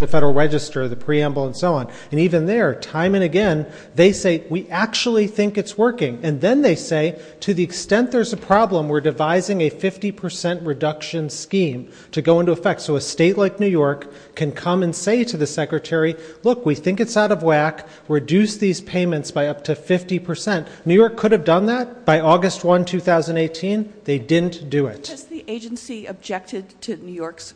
the Federal Register the preamble and so on and even there time and again they say we actually think it's working and then they say to the extent there's a problem we're devising a 50% reduction scheme to go into effect so a state like New York can come and say to the Secretary look we think it's out of whack reduce these payments by up to 50% New York could have done that by August 1 2018 they didn't do it. Has the agency objected to New York's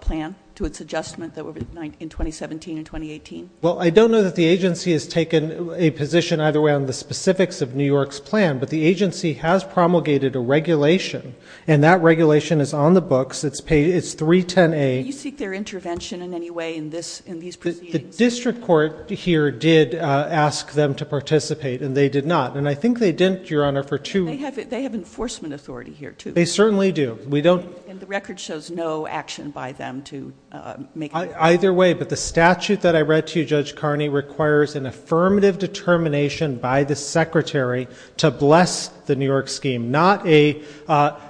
plan to its adjustment that were in 2017 and 2018? Well I don't know that the agency has taken a position either way on the specifics of New York's plan but the agency has promulgated a regulation and that regulation is on the books it's paid it's 310A. Did you seek their intervention in any way in this in these proceedings? The district court here did ask them to participate and they did not and I think they didn't your honor for two. They have it they have enforcement authority here too. They certainly do we don't and the record shows no action by them to make. Either way but the statute that I read to you Judge Carney requires an affirmative determination by the Secretary to bless the New York scheme not a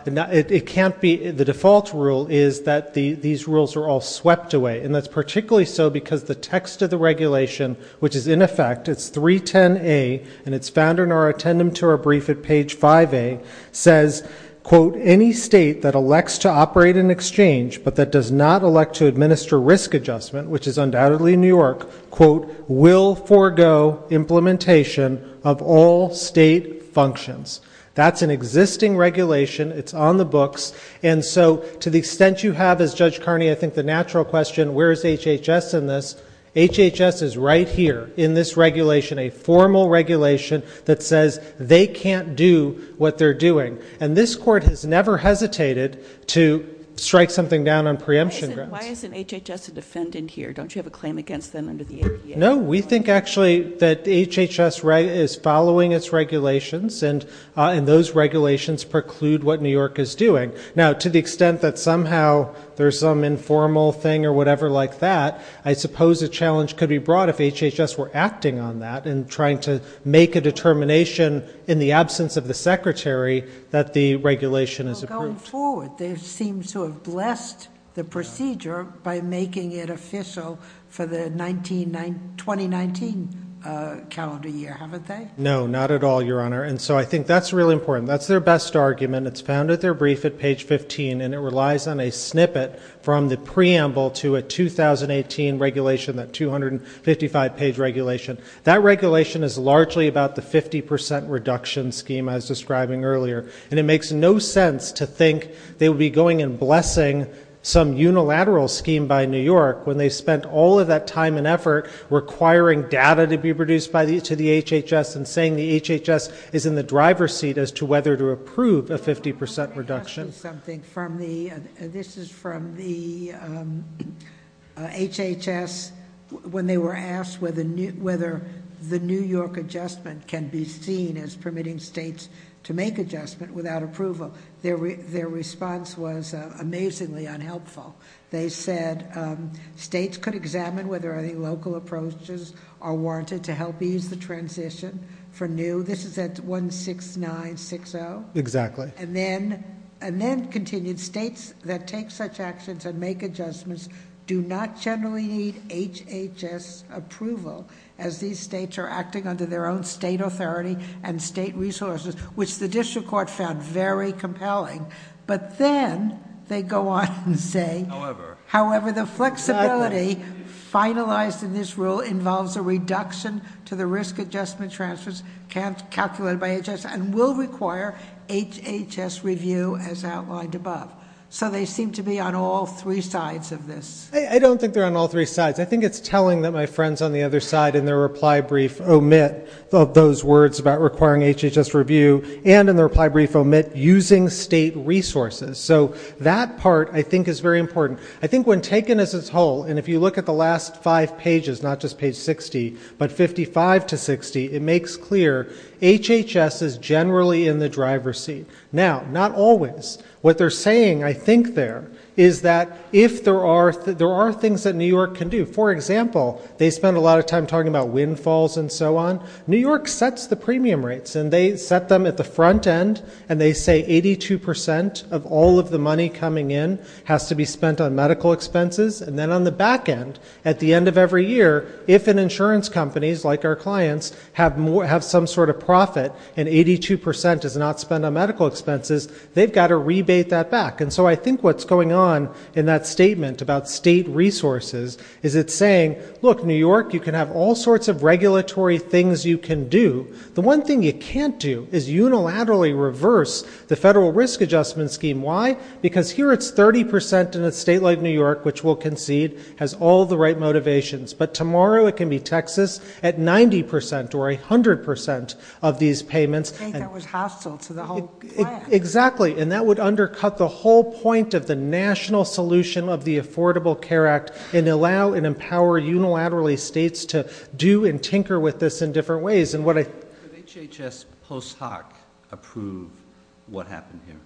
it can't be the default rule is that the these rules are all swept away and that's particularly so because the text of the regulation which is in effect it's 310A and it's found in our attendant to our brief at page 5a says quote any state that elects to operate an exchange but that does not elect to administer risk adjustment which is undoubtedly New York quote will forgo implementation of all state functions. That's an existing regulation it's on the books and so to the extent you have as Judge Carney I think the natural question where is HHS in this? HHS is right here in this regulation a formal regulation that says they can't do what they're doing and this court has never hesitated to strike something down on preemption grounds. Why isn't HHS a defendant here don't you have a claim against them under the ADA? No we think actually that HHS right is following its regulations and and those regulations preclude what New York is doing. Now to the extent that somehow there's some informal thing or whatever like that I suppose a challenge could be brought if HHS were acting on that and trying to make a determination in the absence of the Secretary that the regulation is approved. Going forward they seem to have blessed the procedure by making it official for the 2019 calendar year haven't they? No not at all Your Honor and so I think that's really important that's their best argument it's found at their brief at page 15 and it relies on a snippet from the preamble to a 2018 regulation that 255 page regulation. That regulation is largely about the 50% reduction scheme as describing earlier and it makes no sense to think they'll be going and blessing some unilateral scheme by New York when they spent all of that time and effort requiring data to be produced by the to the HHS and saying the HHS is in the driver's seat as to whether to approve a 50% reduction. This is from the HHS when they were asked whether the New York adjustment can be seen as permitting states to make adjustment without approval. Their response was amazingly unhelpful. They said states could examine whether any local approaches are warranted to help ease the transition for new. This is at 16960. Exactly. And then and then continued states that take such actions and make adjustments do not generally need HHS approval as these states are acting under their own state authority and state resources which the district court found very compelling but then they go on and say however the flexibility finalized in this rule involves a reduction to the risk adjustment transfers calculated by HHS and will require HHS review as outlined above. So they seem to be on all three sides of this. I don't think they're on all three sides. I think it's telling that my friends on the other side in their reply brief omit those words about requiring HHS review and in the reply brief omit using state resources. So that part I think is very important. I think when taken as its whole and if you look at the last five pages not just page 60 but 55 to 60 it makes clear HHS is generally in the driver's seat. Now not always. What they're saying I think there is that if there are there are things that New York can do. For example they spend a lot of time talking about windfalls and so on. New York sets the premium rates and they set them at the front end and they say 82 percent of all of the money coming in has to be spent on medical expenses and then on the back end at the end of every year if an insurance companies like our clients have some sort of profit and 82 percent is not spent on medical expenses they've got to rebate that back. And so I think what's going on in that statement about state resources is it's saying look New York you can have all sorts of regulatory things you can do. The one thing you can't do is unilaterally reverse the federal risk adjustment scheme. Why? Because here it's 30 percent in a state like New York which will have different motivations. But tomorrow it can be Texas at 90 percent or a hundred percent of these payments. I think that was hostile to the whole plan. Exactly and that would undercut the whole point of the national solution of the Affordable Care Act and allow and empower unilaterally states to do and tinker with this in different ways. Would HHS post hoc approve what happened here?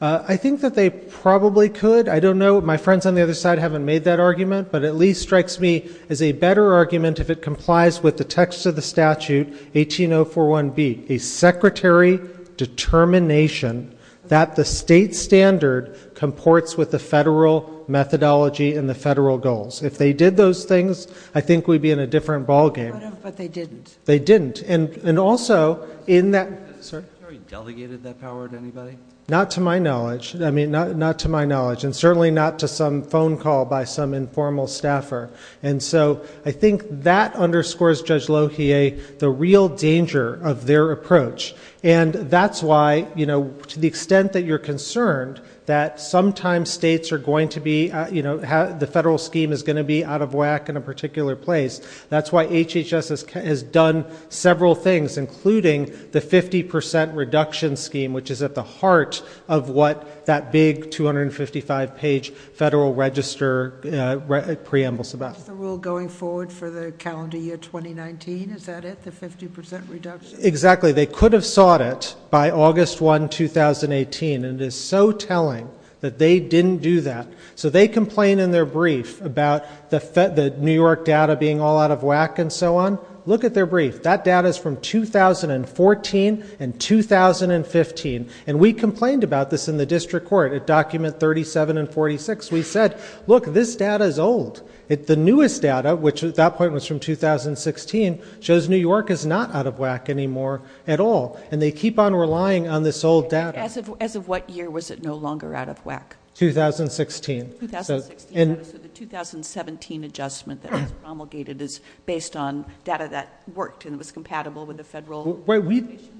I think that they probably could. I don't know. My friends on the other side haven't made that argument but at least strikes me as a better argument if it complies with the text of the statute 18041B. A secretary determination that the state standard comports with the federal methodology and the federal goals. If they did those things I think we'd be in a different ballgame. But they didn't. They didn't. And also in that. Sorry. Have you delegated that power to anybody? Not to my knowledge. I mean not to my knowledge and certainly not to some phone call by some informal staffer. And so I think that underscores Judge Lohier the real danger of their approach. And that's why, you know, to the extent that you're concerned that sometimes states are going to be, you know, the federal scheme is going to be out of whack in a particular place. That's why HHS has done several things including the 50 percent reduction scheme which is at the heart of what that big 255 page federal register preambles about. The rule going forward for the calendar year 2019. Is that it? The 50% reduction? Exactly. They could have sought it by August 1, 2018 and it is so telling that they didn't do that. So they complain in their brief about the New York data being all out of whack and so on. Look at their brief. That data is from 2014 and 2015 and we complained about this in the district court at document 37 and 46. We said look this data is old. The newest data which at that point was from 2016 shows New York is not out of whack anymore at all and they keep on relying on this old data. As of what year was it no longer out of whack? 2016. So the 2017 adjustment that was promulgated is based on data that worked and was compatible with the federal.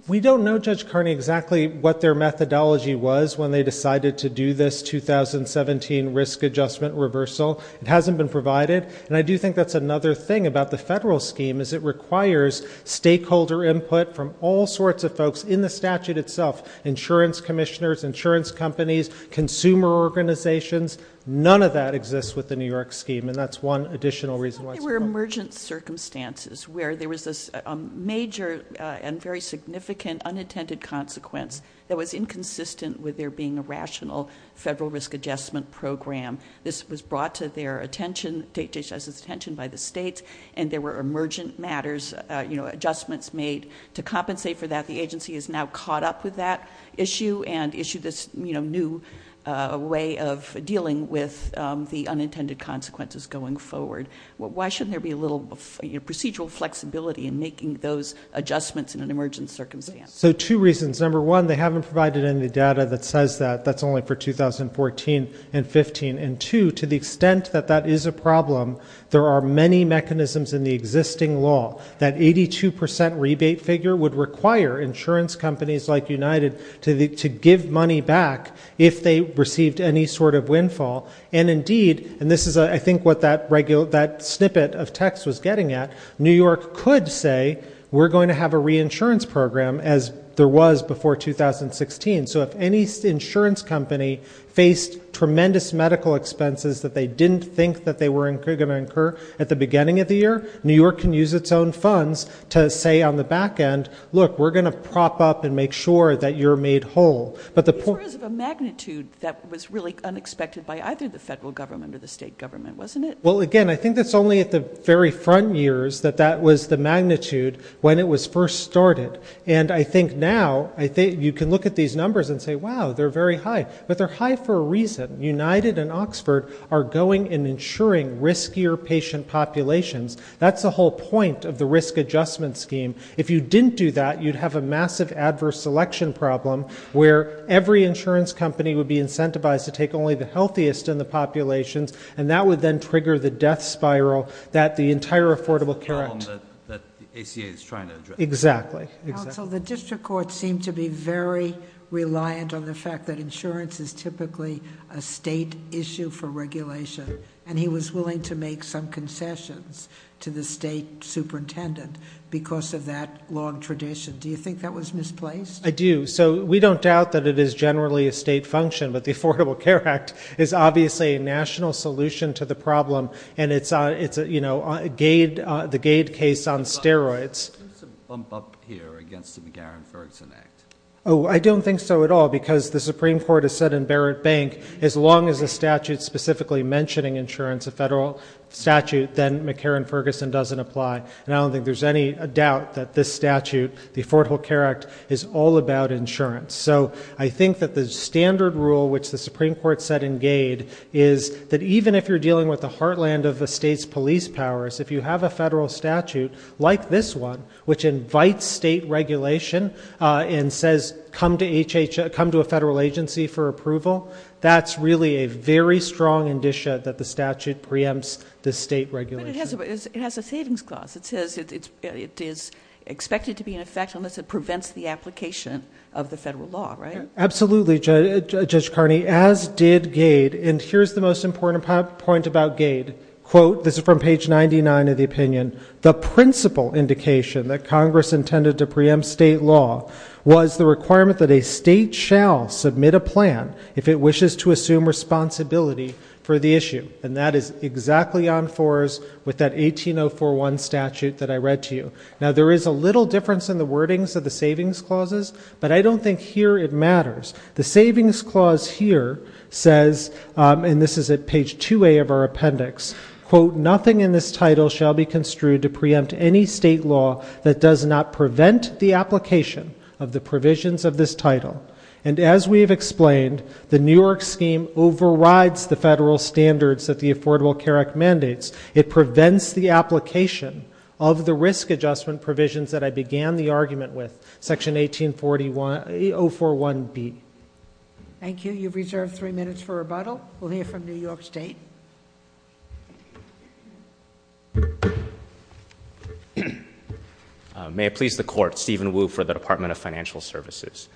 We don't know Judge Carney exactly what their methodology was when they decided to do this 2017 risk adjustment reversal. It hasn't been provided and I do think that's another thing about the federal scheme is it requires stakeholder input from all sorts of folks in the statute itself. Insurance commissioners, insurance companies, consumer organizations. None of that exists with the New York scheme and that's one additional reason why. There were emergent circumstances where there was a major and very significant unintended consequence that was inconsistent with there being a rational federal risk adjustment program. This was brought to their attention by the states and there were emergent matters, you know, adjustments made to compensate for that. The agency is now caught up with that issue and issued this new way of dealing with the unintended consequences going forward. Why shouldn't there be a procedural flexibility in making those adjustments in an emergent circumstance? So two reasons. Number one, they haven't provided any data that says that. That's only for 2014 and 15. And two, to the extent that that is a problem, there are many mechanisms in the existing law. That 82% rebate figure would require insurance companies like United to give money back if they received any sort of windfall. And indeed, and this is I think what that snippet of reporting is getting at, New York could say we're going to have a reinsurance program as there was before 2016. So if any insurance company faced tremendous medical expenses that they didn't think that they were going to incur at the beginning of the year, New York can use its own funds to say on the back end, look, we're going to prop up and make sure that you're made whole. But these were of a magnitude that was really unexpected by either the federal government or the state government, wasn't it? Well, again, I think that's only at the very front years that that was the magnitude when it was first started. And I think now, you can look at these numbers and say, wow, they're very high. But they're high for a reason. United and Oxford are going and insuring riskier patient populations. That's the whole point of the risk adjustment scheme. If you didn't do that, you'd have a massive adverse selection problem where every insurance company would be incentivized to take only the healthiest in the populations and that would then trigger the death spiral that the entire Affordable Care Act. The problem that the ACA is trying to address. Exactly. Counsel, the district court seemed to be very reliant on the fact that insurance is typically a state issue for regulation and he was willing to make some concessions to the state superintendent because of that long tradition. Do you think that was misplaced? I do. So we don't doubt that it is generally a state function, but the Supreme Court has said in Barrett Bank, as long as a statute specifically mentioning insurance, a federal statute, then McCarran-Ferguson doesn't apply. And I don't think there's any doubt that this statute, the Affordable Care Act, is all about insurance. So I think that the standard rule which the Supreme Court set in GAID is that even if you're dealing with a heartland of a state's police powers, if you have a federal statute like this one, which invites state regulation and says come to a federal agency for approval, that's really a very strong indicia that the statute preempts the state regulation. But it has a savings clause. It says it is expected to be in effect unless it prevents the application of the federal law, right? Absolutely, Judge Carney, as did GAID. And here's the most important point about GAID, quote, this is from page 99 of the opinion, the principal indication that Congress intended to preempt state law was the requirement that a state shall submit a plan if it wishes to assume responsibility for the issue. And that is exactly on fours with that 18041 statute that I read to you. Now there is a little difference in the wordings of the savings clauses, but I don't think here it matters. The savings clause here says, and this is at page 2A of our appendix, quote, nothing in this title shall be construed to preempt any state law that does not prevent the application of the provisions of this title. And as we have explained, the New York scheme overrides the federal standards that the Affordable Care Act mandates. It prevents the application of the risk adjustment provisions that I began the argument with, section 18041B. Thank you. You've reserved three minutes for rebuttal. We'll hear from New York State. May it please the Court, Stephen Wu for the Department of Financial Services.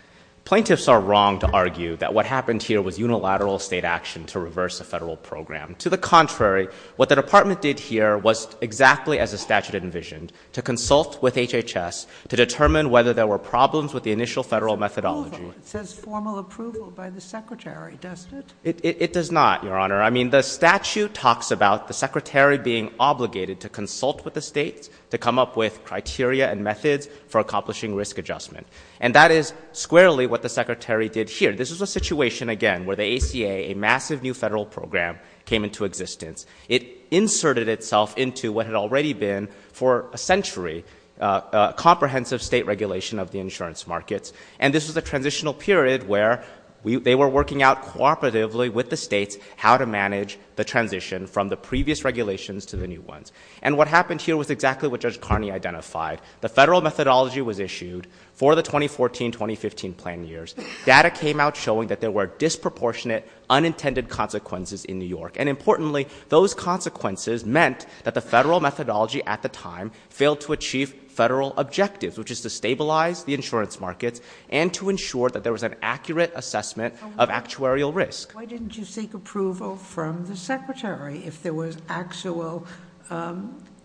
Plaintiffs are wrong to argue that what happened here was unilateral state action to reverse a federal program. To the contrary, what the Department did here was exactly as the statute envisioned, to consult with HHS to determine whether there were problems with the initial federal methodology. It says formal approval by the Secretary, doesn't it? It does not, Your Honor. I mean, the statute talks about the Secretary being obligated to consult with the states to come up with criteria and methods for accomplishing risk adjustment. And that is squarely what the Secretary did here. This is a situation, again, where the ACA, a massive new federal program, came into existence. It inserted itself into what had already been, for a century, comprehensive state regulation of the insurance markets. And this was a transitional period where they were working out cooperatively with the states how to manage the transition from the previous regulations to the new ones. And what happened here was exactly what Judge Carney identified. The federal methodology was issued for the 2014-2015 plan years. Data came out showing that there were disproportionate, unintended consequences in New York. And importantly, those consequences meant that the federal methodology at the time failed to achieve federal objectives, which is to stabilize the insurance markets and to ensure that there was an accurate assessment of actuarial risk. Why didn't you seek approval from the Secretary if there was actual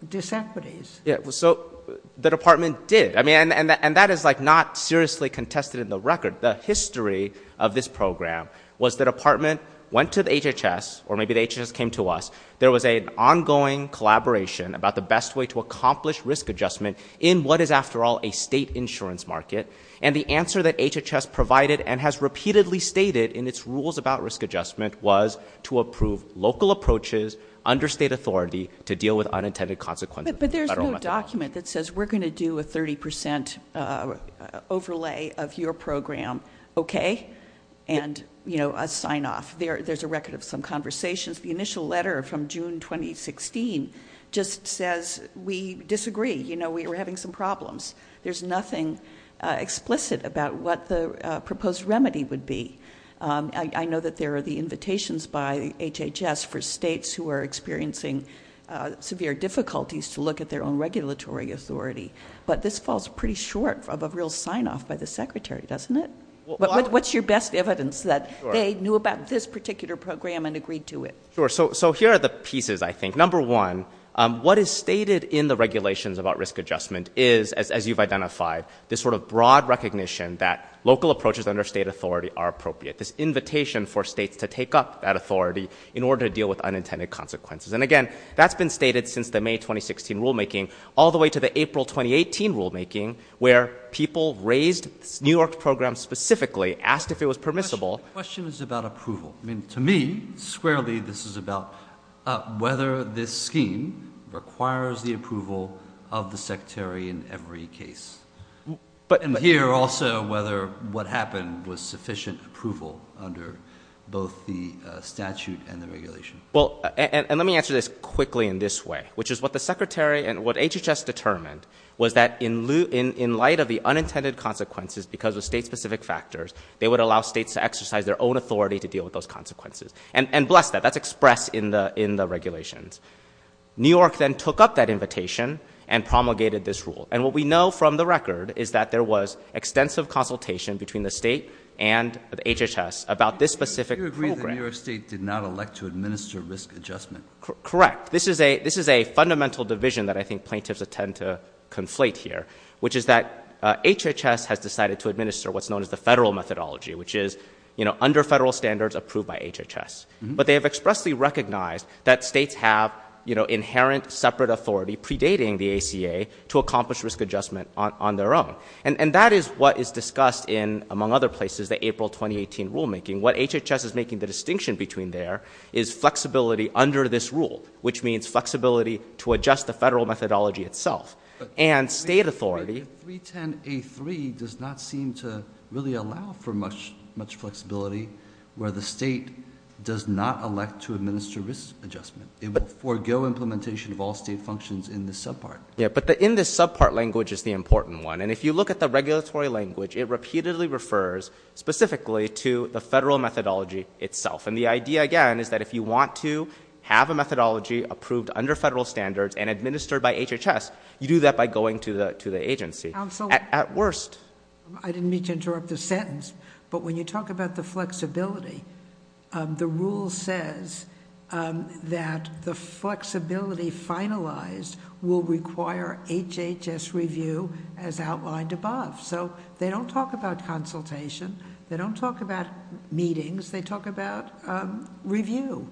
disequities? So the Department did. And that is not seriously contested in the record. The history of this program was the Department went to the HHS, or maybe the HHS came to us, there was an ongoing collaboration about the best way to accomplish risk adjustment in what is, after all, a state insurance market. And the answer that HHS provided and has repeatedly stated in its rules about risk adjustment was to approve local approaches under state authority to deal with unintended consequences. But there's no document that says we're going to do a 30% overlay of your program, okay? And, you know, a sign-off. There's a record of some problems. There's nothing explicit about what the proposed remedy would be. I know that there are the invitations by HHS for states who are experiencing severe difficulties to look at their own regulatory authority. But this falls pretty short of a real sign-off by the Secretary, doesn't it? What's your best evidence that they knew about this particular program and agreed to it? Sure. So here are the pieces, I think. Number one, what is stated in the regulations about risk adjustment is, as you've identified, this sort of broad recognition that local approaches under state authority are appropriate. This invitation for states to take up that authority in order to deal with unintended consequences. And, again, that's been stated since the May 2016 rulemaking, all the way to the April 2018 rulemaking, where people raised New York's program specifically, asked if it was permissible. My question is about approval. I mean, to me, squarely, this is about whether this scheme requires the approval of the Secretary in every case. And here, also, whether what happened was sufficient approval under both the statute and the regulation. Well, and let me answer this quickly in this way, which is what the Secretary and what HHS determined was that in light of the unintended consequences, because of state-specific factors, they would allow states to exercise their own authority to deal with those consequences. And bless that, that's expressed in the regulations. New York then took up that invitation and promulgated this rule. And what we know from the record is that there was extensive consultation between the state and HHS about this specific program. You agree that New York State did not elect to administer risk adjustment? Correct. This is a fundamental division that I think plaintiffs tend to have to administer what's known as the federal methodology, which is, you know, under federal standards approved by HHS. But they have expressly recognized that states have, you know, inherent separate authority predating the ACA to accomplish risk adjustment on their own. And that is what is discussed in, among other places, the April 2018 rulemaking. What HHS is making the distinction between there is flexibility under this rule, which means flexibility to adjust the federal methodology itself. And state authority. But the 310A3 does not seem to really allow for much flexibility where the state does not elect to administer risk adjustment. It will forego implementation of all state functions in this subpart. Yeah, but the in this subpart language is the important one. And if you look at the regulatory language, it repeatedly refers specifically to the federal methodology itself. And the idea, again, is that if you want to have a methodology approved under federal standards and administered by the agency. Counsel. At worst. I didn't mean to interrupt the sentence. But when you talk about the flexibility, the rule says that the flexibility finalized will require HHS review as outlined above. So they don't talk about consultation. They don't talk about meetings. They talk about review.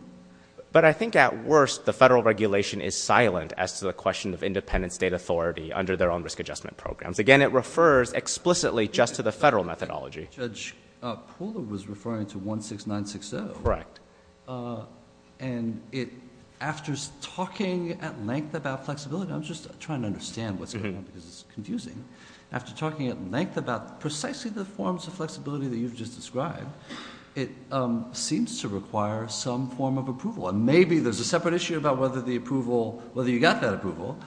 But I think at worst the federal regulation is silent as to the question of independent state authority under their own risk adjustment programs. Again, it refers explicitly just to the federal methodology. Judge Poole was referring to 16960. Correct. And after talking at length about flexibility, I'm just trying to understand what's going on because it's confusing. After talking at length about precisely the forms of flexibility that you've just described, it seems to require some form of approval. And maybe there's a separate issue about whether the approval, whether you got that approval,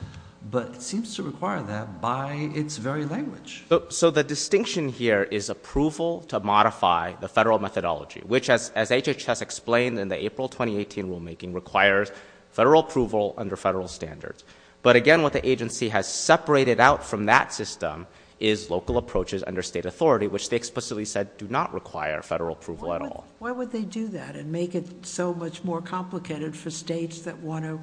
but it seems to require that by its very language. So the distinction here is approval to modify the federal methodology, which as HHS explained in the April 2018 rulemaking requires federal approval under federal standards. But again, what the agency has separated out from that system is local approaches under state authority, which they explicitly said do not require federal approval at all. Why would they do that and make it so much more complicated for states that want to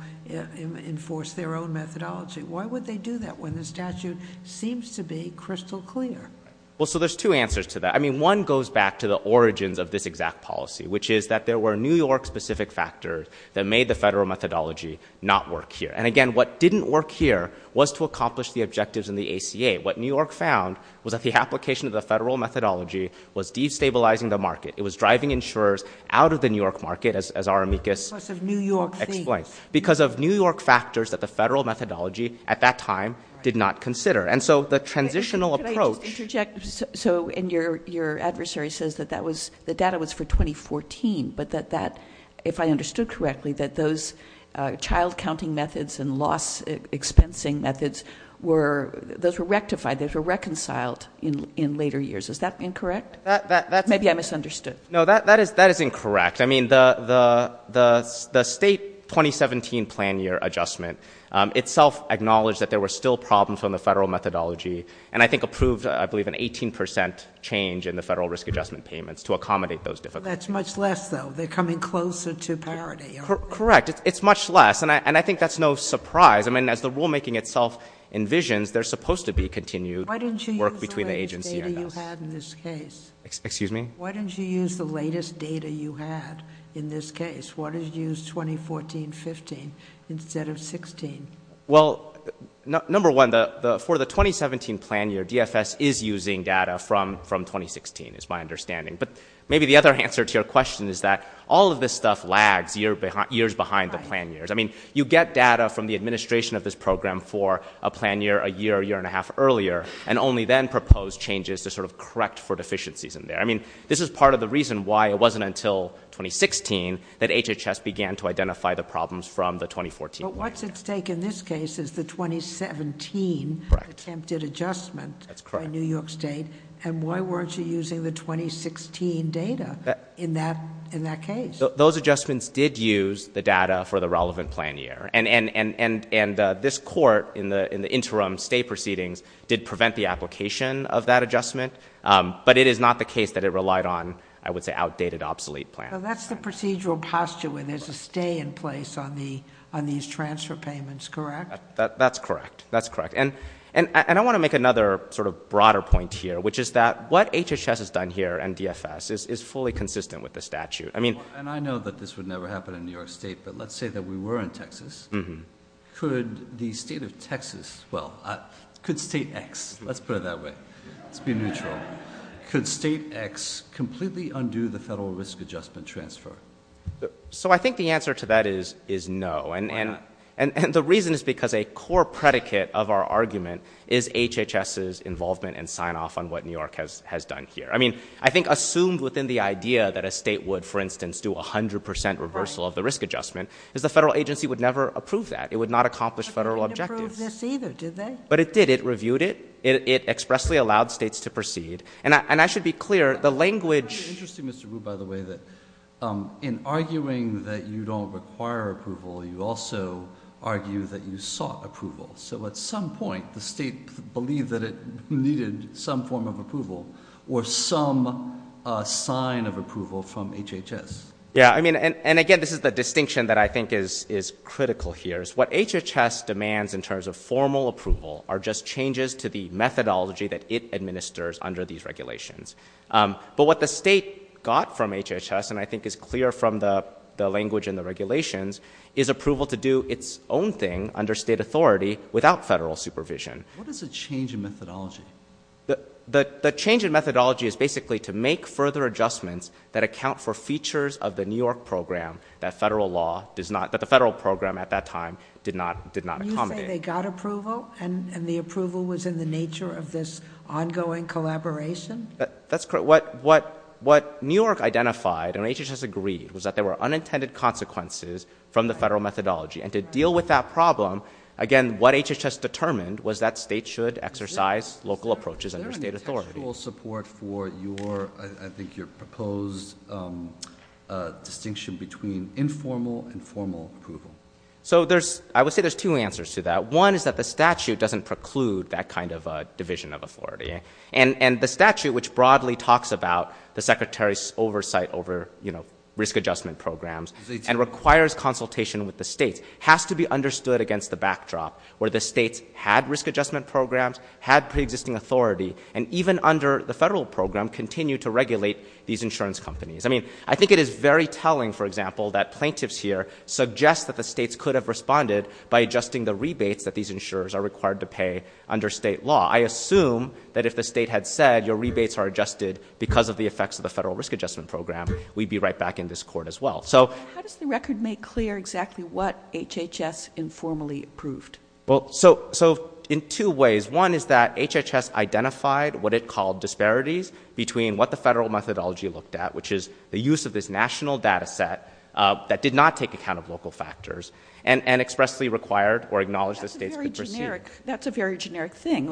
enforce their own methodology? Why would they do that when the statute seems to be crystal clear? Well, so there's two answers to that. I mean, one goes back to the origins of this exact policy, which is that there were New York-specific factors that made the federal methodology not work here. And again, what didn't work here was to accomplish the objectives in the ACA. What New York found was that the application of the federal methodology was destabilizing the market. It was driving insurers out of the New York market, as our amicus explains. Because of New York factors that the federal methodology at that time did not consider. And so the transitional approach... Can I just interject? So your adversary says that the data was for 2014, but that that, if I understood correctly, that those child-counting methods and loss-expensing methods, those were rectified, those were reconciled in later years. Is that incorrect? Maybe I misunderstood. No, that is incorrect. I mean, the state 2017 plan year adjustment itself acknowledged that there were still problems from the federal methodology, and I think approved, I believe, an 18 percent change in the federal risk-adjustment payments to accommodate those difficulties. That's much less, though. They're coming closer to parity, aren't they? Correct. It's much less. And I think that's no surprise. I mean, as the rulemaking itself envisions, there's supposed to be continued work between the agency and us. Why didn't you use the latest data you had in this case? Excuse me? Why didn't you use the latest data you had in this case? Why did you use 2014-15 instead of 16? Well, number one, for the 2017 plan year, DFS is using data from 2016, is my understanding. But maybe the other answer to your question is that all of this stuff lags years behind the plan years. I mean, you get data from the administration of this program for a plan year, a year, a year and a half earlier, and only then propose changes to sort of correct for deficiencies in there. I mean, this is part of the reason why it wasn't until 2016 that HHS began to identify the problems from the 2014 plan year. But what's at stake in this case is the 2017 attempted adjustment by New York State. That's correct. And why weren't you using the 2016 data in that case? Those adjustments did use the data for the relevant plan year. And this court in the interim state proceedings did prevent the application of that adjustment. But it is not the case that it relied on, I would say, outdated obsolete plans. That's the procedural posture where there's a stay in place on these transfer payments, correct? That's correct. That's correct. And I want to make another sort of broader point here, which is that what HHS has done here and DFS is fully consistent with the statute. And I know that this would never happen in New York State, but let's say that we were in Texas. Could the state of Texas, well, could state X, let's put it that way. Let's be neutral. Could state X completely undo the federal risk adjustment transfer? So I think the answer to that is no. Why not? And the reason is because a core predicate of our argument is HHS's involvement and sign-off on what New York has done here. I mean, I think assumed within the idea that a state would, for instance, do a hundred percent reversal of the risk adjustment is the federal agency would never approve that. It would not accomplish federal objectives. But they didn't approve this either, did they? No. But it did. It reviewed it. It expressly allowed states to proceed. And I should be clear, the language— It's interesting, Mr. Wu, by the way, that in arguing that you don't require approval, you also argue that you sought approval. So at some point, the state believed that it needed some form of approval or some sign of approval from HHS. Yeah. I mean, and again, this is the distinction that I think is clear from the language in the regulations is approval to do its own thing under state authority without federal supervision. What is a change in methodology? The change in methodology is basically to make further adjustments that account for features of the New York program that federal law does not—that the federal program at that time did not accommodate. They got approval. They got approval. And the approval was in the nature of this ongoing collaboration? That's correct. What New York identified and HHS agreed was that there were unintended consequences from the federal methodology. And to deal with that problem, again, what HHS determined was that states should exercise local approaches under state authority. Is there an intentional support for your—I think your proposed distinction between informal and formal approval? So I would say there's two answers to that. One is that the statute doesn't preclude that kind of division of authority. And the statute, which broadly talks about the secretary's oversight over, you know, risk adjustment programs and requires consultation with the states, has to be understood against the backdrop where the states had risk adjustment programs, had preexisting authority, and even under the federal program continued to regulate these insurance companies. I mean, I think it is very telling, for example, that plaintiffs here suggest that the states could have responded by adjusting the rebates that these insurers are required to pay under state law. I assume that if the state had said your rebates are adjusted because of the effects of the federal risk adjustment program, we'd be right back in this court as well. How does the record make clear exactly what HHS informally approved? Well, so in two ways. One is that HHS identified what it called disparities between what the federal methodology looked at, which is the use of this national data set that did not take account of local factors, and expressly required or acknowledged the states could proceed. That's a very generic thing.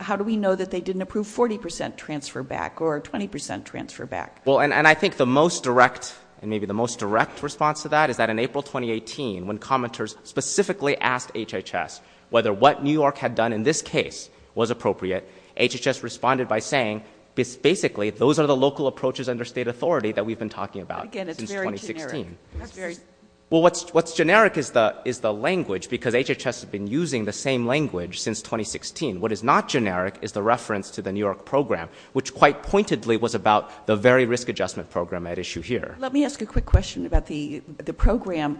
How do we know that they didn't approve 40% transfer back or 20% transfer back? Well, and I think the most direct, and maybe the most direct response to that is that in April 2018, when commenters specifically asked HHS whether what New York had done in this case was appropriate, HHS responded by saying, basically, those are the local approaches under state authority that we've been talking about since 2016. Well, what's generic is the language, because HHS has been using the same language since 2016. What is not generic is the reference to the New York program, which quite pointedly was about the very risk adjustment program at issue here. Let me ask a quick question about the program.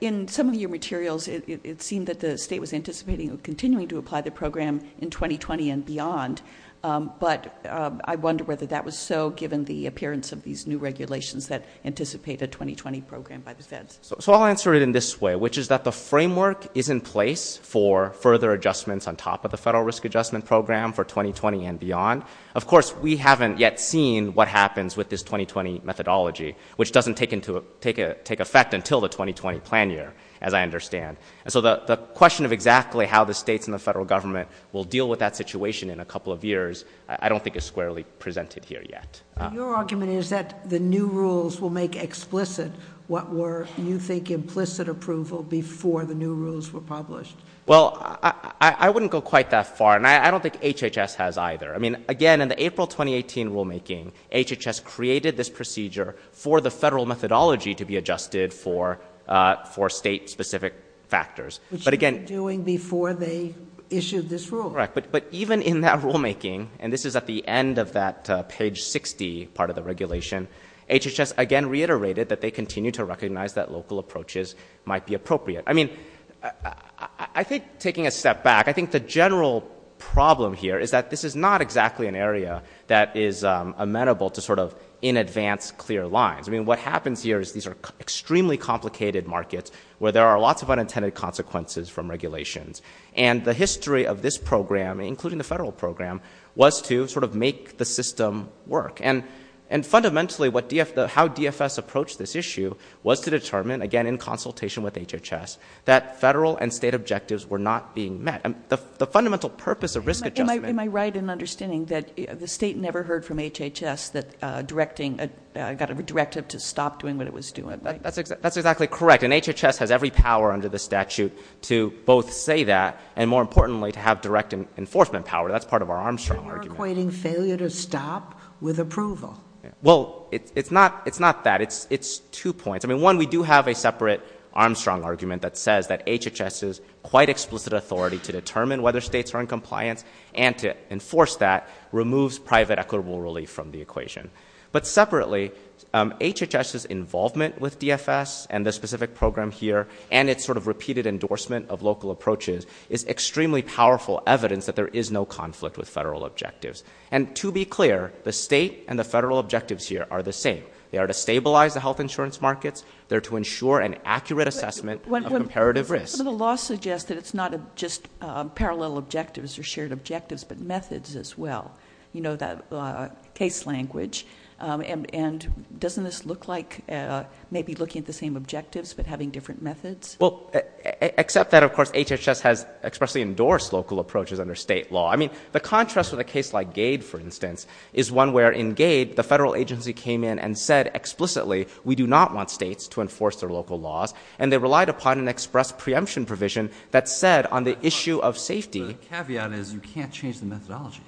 In some of your materials, it seemed that the state was anticipating or continuing to apply the program in 2020 and beyond, but I wonder whether that was so given the appearance of these new regulations that anticipate a 2020 program by the feds. So I'll answer it in this way, which is that the framework is in place for further adjustments on top of the federal risk adjustment program for 2020 and beyond. Of course, we haven't yet seen what happens with this 2020 methodology, which doesn't take effect until the 2020 plan year, as I understand. So the question of exactly how the states and the federal government will deal with that situation in a couple of years I don't think is squarely presented here yet. Your argument is that the new rules will make explicit what were, you think, implicit approval before the new rules were published. Well, I wouldn't go quite that far, and I don't think HHS has either. I mean, again, in the April 2018 rulemaking, HHS created this procedure for the federal methodology to be adjusted for state-specific factors. Which they were doing before they issued this rule. Correct. But even in that rulemaking, and this is at the end of that page 60 part of the regulation, HHS again reiterated that they continue to recognize that local approaches might be appropriate. I mean, I think taking a step back, I think the general problem here is that this is not exactly an area that is amenable to sort of in advance clear lines. I mean, what happens here is these are extremely complicated markets where there are lots of unintended consequences from regulations. And the history of this program, including the federal program, was to sort of make the system work. And fundamentally, how DFS approached this issue was to determine, again, in consultation with HHS, that federal and state objectives were not being met. The fundamental purpose of risk adjustment... Am I right in understanding that the state never heard from HHS that it got a directive to stop doing what it was doing? That's exactly correct. And HHS has every power under the statute to both say that, and more importantly, to have direct enforcement power. That's part of our Armstrong argument. You're equating failure to stop with approval. Well, it's not that. It's two points. I mean, one, we do have a separate Armstrong argument that says that HHS's quite explicit authority to determine whether states are in compliance and to enforce that removes private equitable relief from the equation. But separately, HHS's involvement with DFS and the specific program here and its sort of repeated endorsement of local approaches is extremely powerful evidence that there is no conflict with federal objectives. And to be clear, the state and the federal objectives here are the same. They are to stabilize the health insurance markets. They're to ensure an accurate assessment of comparative risk. But the law suggests that it's not just parallel objectives or shared objectives, but methods as well. You know that case language. And doesn't this look like maybe looking at the same objectives but having different methods? Well, except that, of course, HHS has expressly endorsed local approaches under state law. I mean, the contrast with a case like Gade, for instance, is one where in Gade the federal agency came in and said explicitly, we do not want states to enforce their local laws, and they relied upon an express preemption provision that said on the issue of safety. The caveat is you can't change the methodology.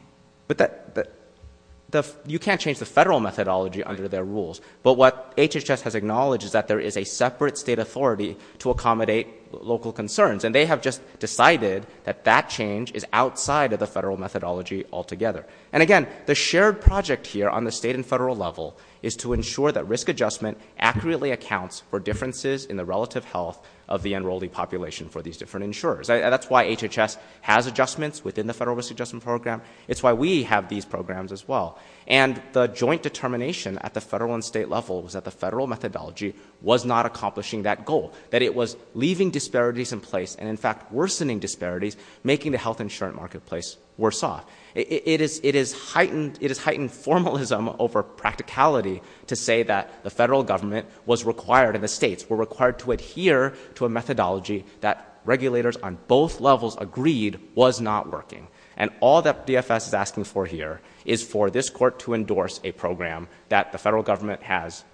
You can't change the federal methodology under their rules. But what HHS has acknowledged is that there is a separate state authority to accommodate local concerns, and they have just decided that that change is outside of the federal methodology altogether. And, again, the shared project here on the state and federal level is to ensure that risk adjustment accurately accounts for differences in the relative health of the enrollee population for these different insurers. That's why HHS has adjustments within the federal risk adjustment program. It's why we have these programs as well. And the joint determination at the federal and state level was that the federal methodology was not accomplishing that goal, that it was leaving disparities in place and, in fact, worsening disparities, making the health insurance marketplace worse off. It has heightened formalism over practicality to say that the federal government was required and the states were required to adhere to a methodology that regulators on both levels agreed was not working. And all that DFS is asking for here is for this court to endorse a program that the federal government has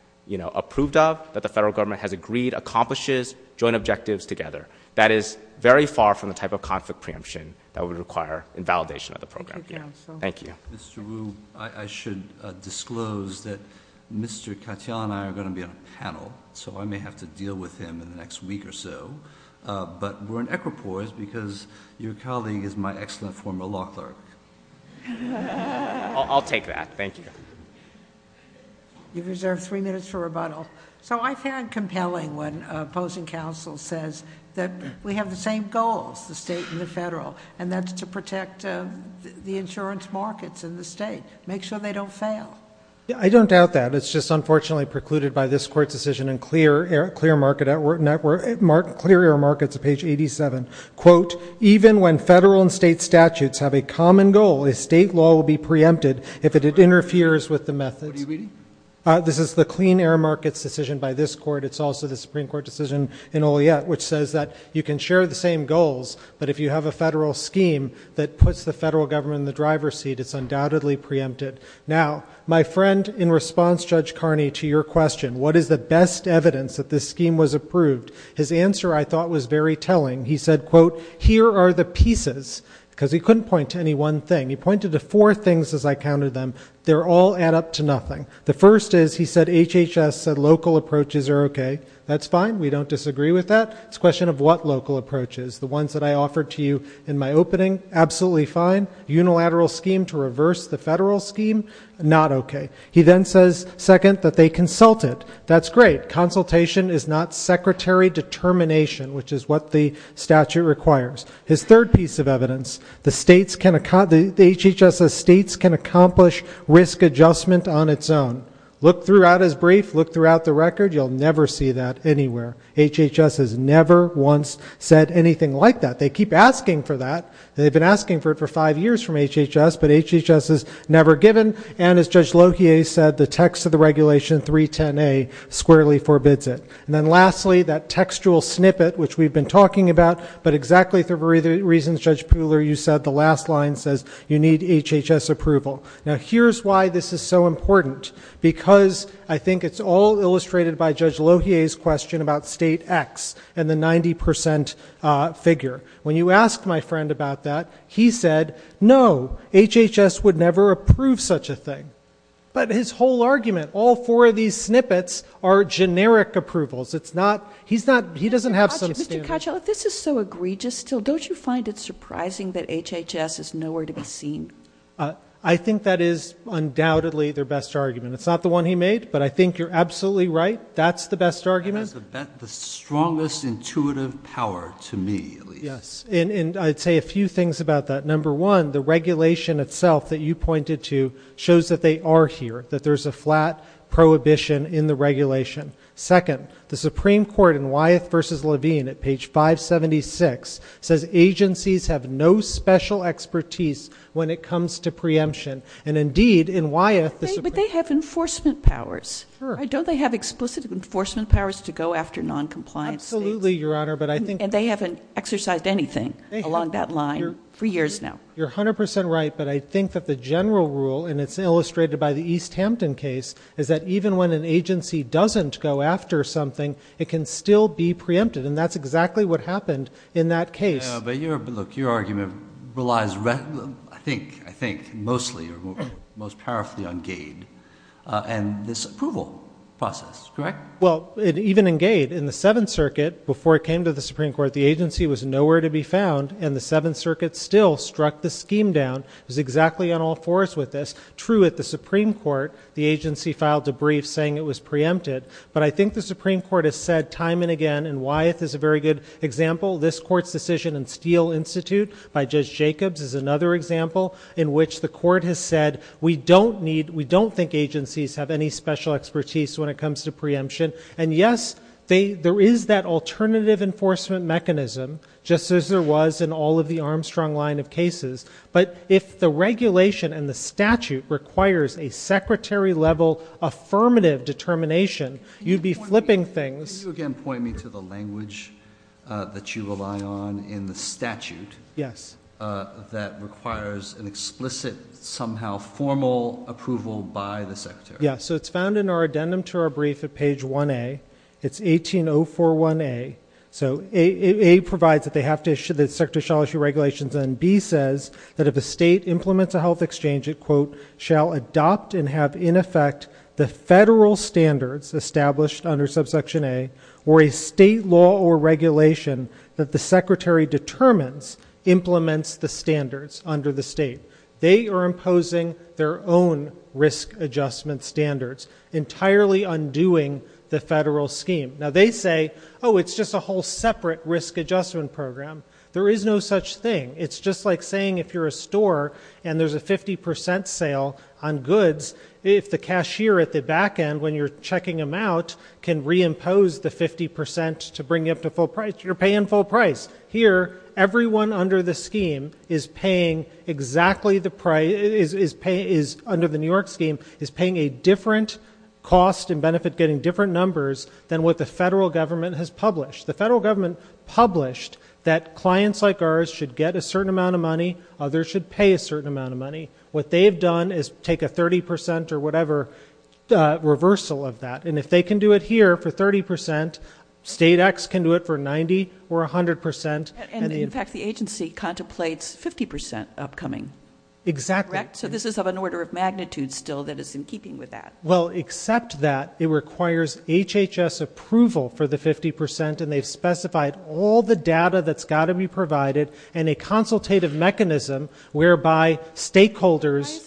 approved of, that the federal government has agreed accomplishes joint objectives together. That is very far from the type of conflict preemption that would require invalidation of the program. Thank you. Mr. Wu, I should disclose that Mr. Katyal and I are going to be on a panel, so I may have to deal with him in the next week or so, but we're in equipoise because your colleague is my excellent former law clerk. I'll take that. Thank you. You've reserved three minutes for rebuttal. So I find it compelling when opposing counsel says that we have the same goals, the state and the federal, and that's to protect the insurance markets in the state, make sure they don't fail. I don't doubt that. It's just unfortunately precluded by this court's decision in Clear Air Markets, page 87. Quote, even when federal and state statutes have a common goal, a state law will be preempted if it interferes with the methods. What are you reading? This is the Clean Air Markets decision by this court. It's also the Supreme Court decision in Oliette, which says that you can share the same goals, but if you have a federal scheme that puts the federal government in the driver's seat, it's undoubtedly preempted. Now, my friend in response, Judge Carney, to your question, what is the best evidence that this scheme was approved, his answer I thought was very telling. He said, quote, here are the pieces, because he couldn't point to any one thing. He pointed to four things as I counted them. They all add up to nothing. The first is, he said, HHS said local approaches are okay. That's fine. We don't disagree with that. It's a question of what local approaches. The ones that I offered to you in my opening, absolutely fine. Unilateral scheme to reverse the federal scheme, not okay. He then says, second, that they consulted. That's great. Consultation is not secretary determination, which is what the statute requires. His third piece of evidence, the HHS states can accomplish risk adjustment on its own. Look throughout his brief. Look throughout the record. You'll never see that anywhere. HHS has never once said anything like that. They keep asking for that. They've been asking for it for five years from HHS, but HHS has never given, and as Judge Lohier said, the text of the regulation, 310A, squarely forbids it. And then lastly, that textual snippet, which we've been talking about, but exactly for the reasons Judge Pooler, you said, the last line says, you need HHS approval. Now, here's why this is so important, because I think it's all illustrated by Judge Lohier's question about state X and the 90% figure. When you asked my friend about that, he said, no, HHS would never approve such a thing. But his whole argument, all four of these snippets are generic approvals. He doesn't have some standard. Mr. Cottrell, if this is so egregious still, don't you find it surprising that HHS is nowhere to be seen? I think that is undoubtedly their best argument. It's not the one he made, but I think you're absolutely right. That's the best argument. That has the strongest intuitive power to me, at least. Yes, and I'd say a few things about that. Number one, the regulation itself that you pointed to shows that they are here, that there's a flat prohibition in the regulation. Second, the Supreme Court in Wyeth v. Levine at page 576 says agencies have no special expertise when it comes to preemption. And, indeed, in Wyeth, the Supreme Court- But they have enforcement powers. Sure. Don't they have explicit enforcement powers to go after noncompliant states? Absolutely, Your Honor, but I think- You're 100 percent right, but I think that the general rule, and it's illustrated by the East Hampton case, is that even when an agency doesn't go after something, it can still be preempted, and that's exactly what happened in that case. But, look, your argument relies, I think, mostly or most powerfully on Gade and this approval process, correct? Well, even in Gade, in the Seventh Circuit, before it came to the Supreme Court, the agency was nowhere to be found, and the Seventh Circuit still struck the scheme down. It was exactly on all fours with this. True, at the Supreme Court, the agency filed a brief saying it was preempted, but I think the Supreme Court has said time and again, and Wyeth is a very good example, this court's decision in Steele Institute by Judge Jacobs is another example in which the court has said, we don't think agencies have any special expertise when it comes to preemption. And, yes, there is that alternative enforcement mechanism, just as there was in all of the Armstrong line of cases, but if the regulation and the statute requires a secretary-level affirmative determination, you'd be flipping things. Can you again point me to the language that you rely on in the statute Yes, so it's found in our addendum to our brief at page 1A. It's 18041A. So A provides that they have to issue, that the secretary shall issue regulations, and B says that if a state implements a health exchange, it, quote, shall adopt and have in effect the federal standards established under subsection A, or a state law or regulation that the secretary determines implements the standards under the state. They are imposing their own risk adjustment standards, entirely undoing the federal scheme. Now, they say, oh, it's just a whole separate risk adjustment program. There is no such thing. It's just like saying if you're a store and there's a 50% sale on goods, if the cashier at the back end, when you're checking them out, can reimpose the 50% to bring you up to full price, you're paying full price. Here, everyone under the scheme is paying exactly the price, is under the New York scheme, is paying a different cost and benefit getting different numbers than what the federal government has published. The federal government published that clients like ours should get a certain amount of money. Others should pay a certain amount of money. What they have done is take a 30% or whatever reversal of that. If they can do it here for 30%, state X can do it for 90% or 100%. In fact, the agency contemplates 50% upcoming. Exactly. Correct? So this is of an order of magnitude still that is in keeping with that. Well, except that, it requires HHS approval for the 50% and they've specified all the data that's got to be provided and a consultative mechanism whereby stakeholders...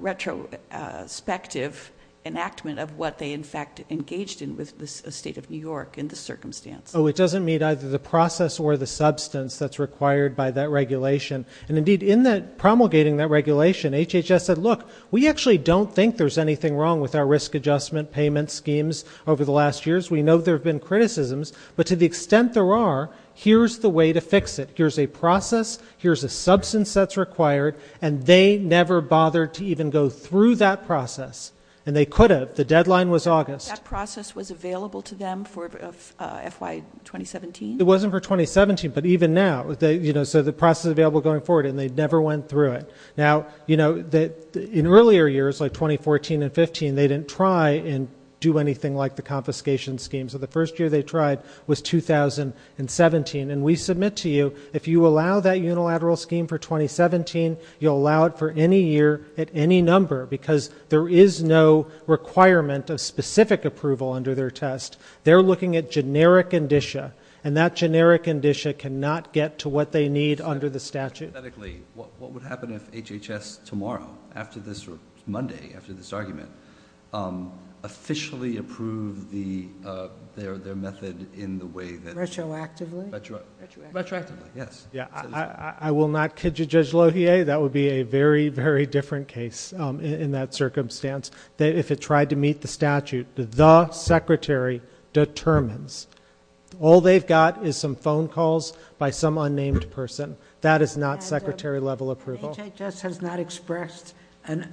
retrospective enactment of what they in fact engaged in with the state of New York in this circumstance. Oh, it doesn't meet either the process or the substance that's required by that regulation. And indeed, in that promulgating that regulation, HHS said, look, we actually don't think there's anything wrong with our risk adjustment payment schemes over the last years. We know there have been criticisms, but to the extent there are, here's the way to fix it. Here's a process. Here's a substance that's required. And they never bothered to even go through that process. And they could have. The deadline was August. That process was available to them for FY 2017? It wasn't for 2017, but even now. So the process is available going forward and they never went through it. Now, in earlier years, like 2014 and 15, they didn't try and do anything like the confiscation scheme. So the first year they tried was 2017. And we submit to you, if you allow that unilateral scheme for 2017, you'll allow it for any year at any number. Because there is no requirement of specific approval under their test. They're looking at generic indicia. And that generic indicia cannot get to what they need under the statute. What would happen if HHS tomorrow, after this or Monday after this argument, officially approved their method in the way that... Retroactively? Retroactively, yes. I will not kid you, Judge Lohier, that would be a very, very different case in that circumstance. If it tried to meet the statute, the secretary determines. All they've got is some phone calls by some unnamed person. That is not secretary-level approval. HHS has not expressed an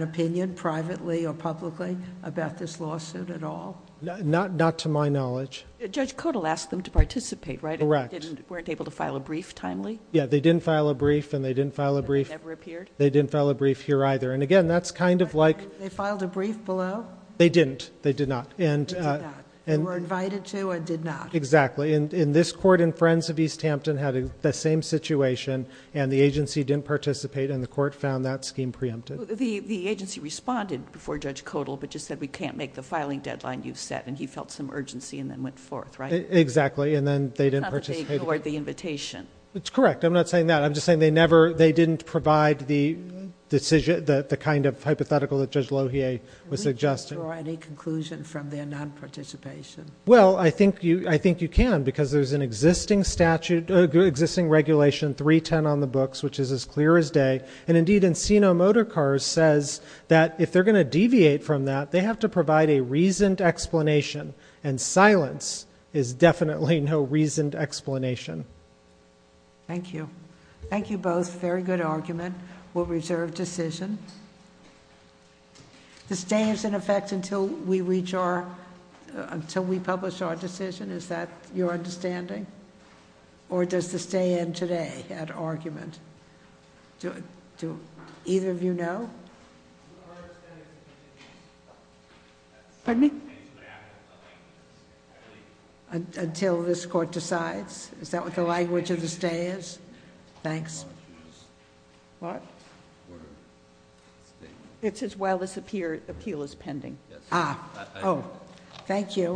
opinion privately or publicly about this lawsuit at all? Not to my knowledge. Judge Codall asked them to participate, right? Correct. They weren't able to file a brief timely? Yeah, they didn't file a brief, and they didn't file a brief... They never appeared? They didn't file a brief here either. And again, that's kind of like... They filed a brief below? They didn't. They did not. They were invited to and did not. Exactly. In this court in Friends of East Hampton had the same situation, and the agency didn't participate, and the court found that scheme preempted. The agency responded before Judge Codall, but just said, We can't make the filing deadline you've set. And he felt some urgency and then went forth, right? Exactly. And then they didn't participate. Not that they ignored the invitation. That's correct. I'm not saying that. I'm just saying they never... They didn't provide the decision... The kind of hypothetical that Judge Lohier was suggesting. Can we draw any conclusion from their nonparticipation? Well, I think you can, because there's an existing statute... Existing regulation 310 on the books, which is as clear as day. And indeed, Encino Motor Cars says that if they're going to deviate from that, they have to provide a reasoned explanation. And silence is definitely no reasoned explanation. Thank you. Thank you both. Very good argument. We'll reserve decision. The stay is in effect until we reach our... Until we publish our decision. Is that your understanding? Or does the stay end today add argument? Do either of you know? Pardon me? Until this court decides? Is that what the language of the stay is? Thanks. What? It's as well as appeal is pending. Ah. Oh. Thank you.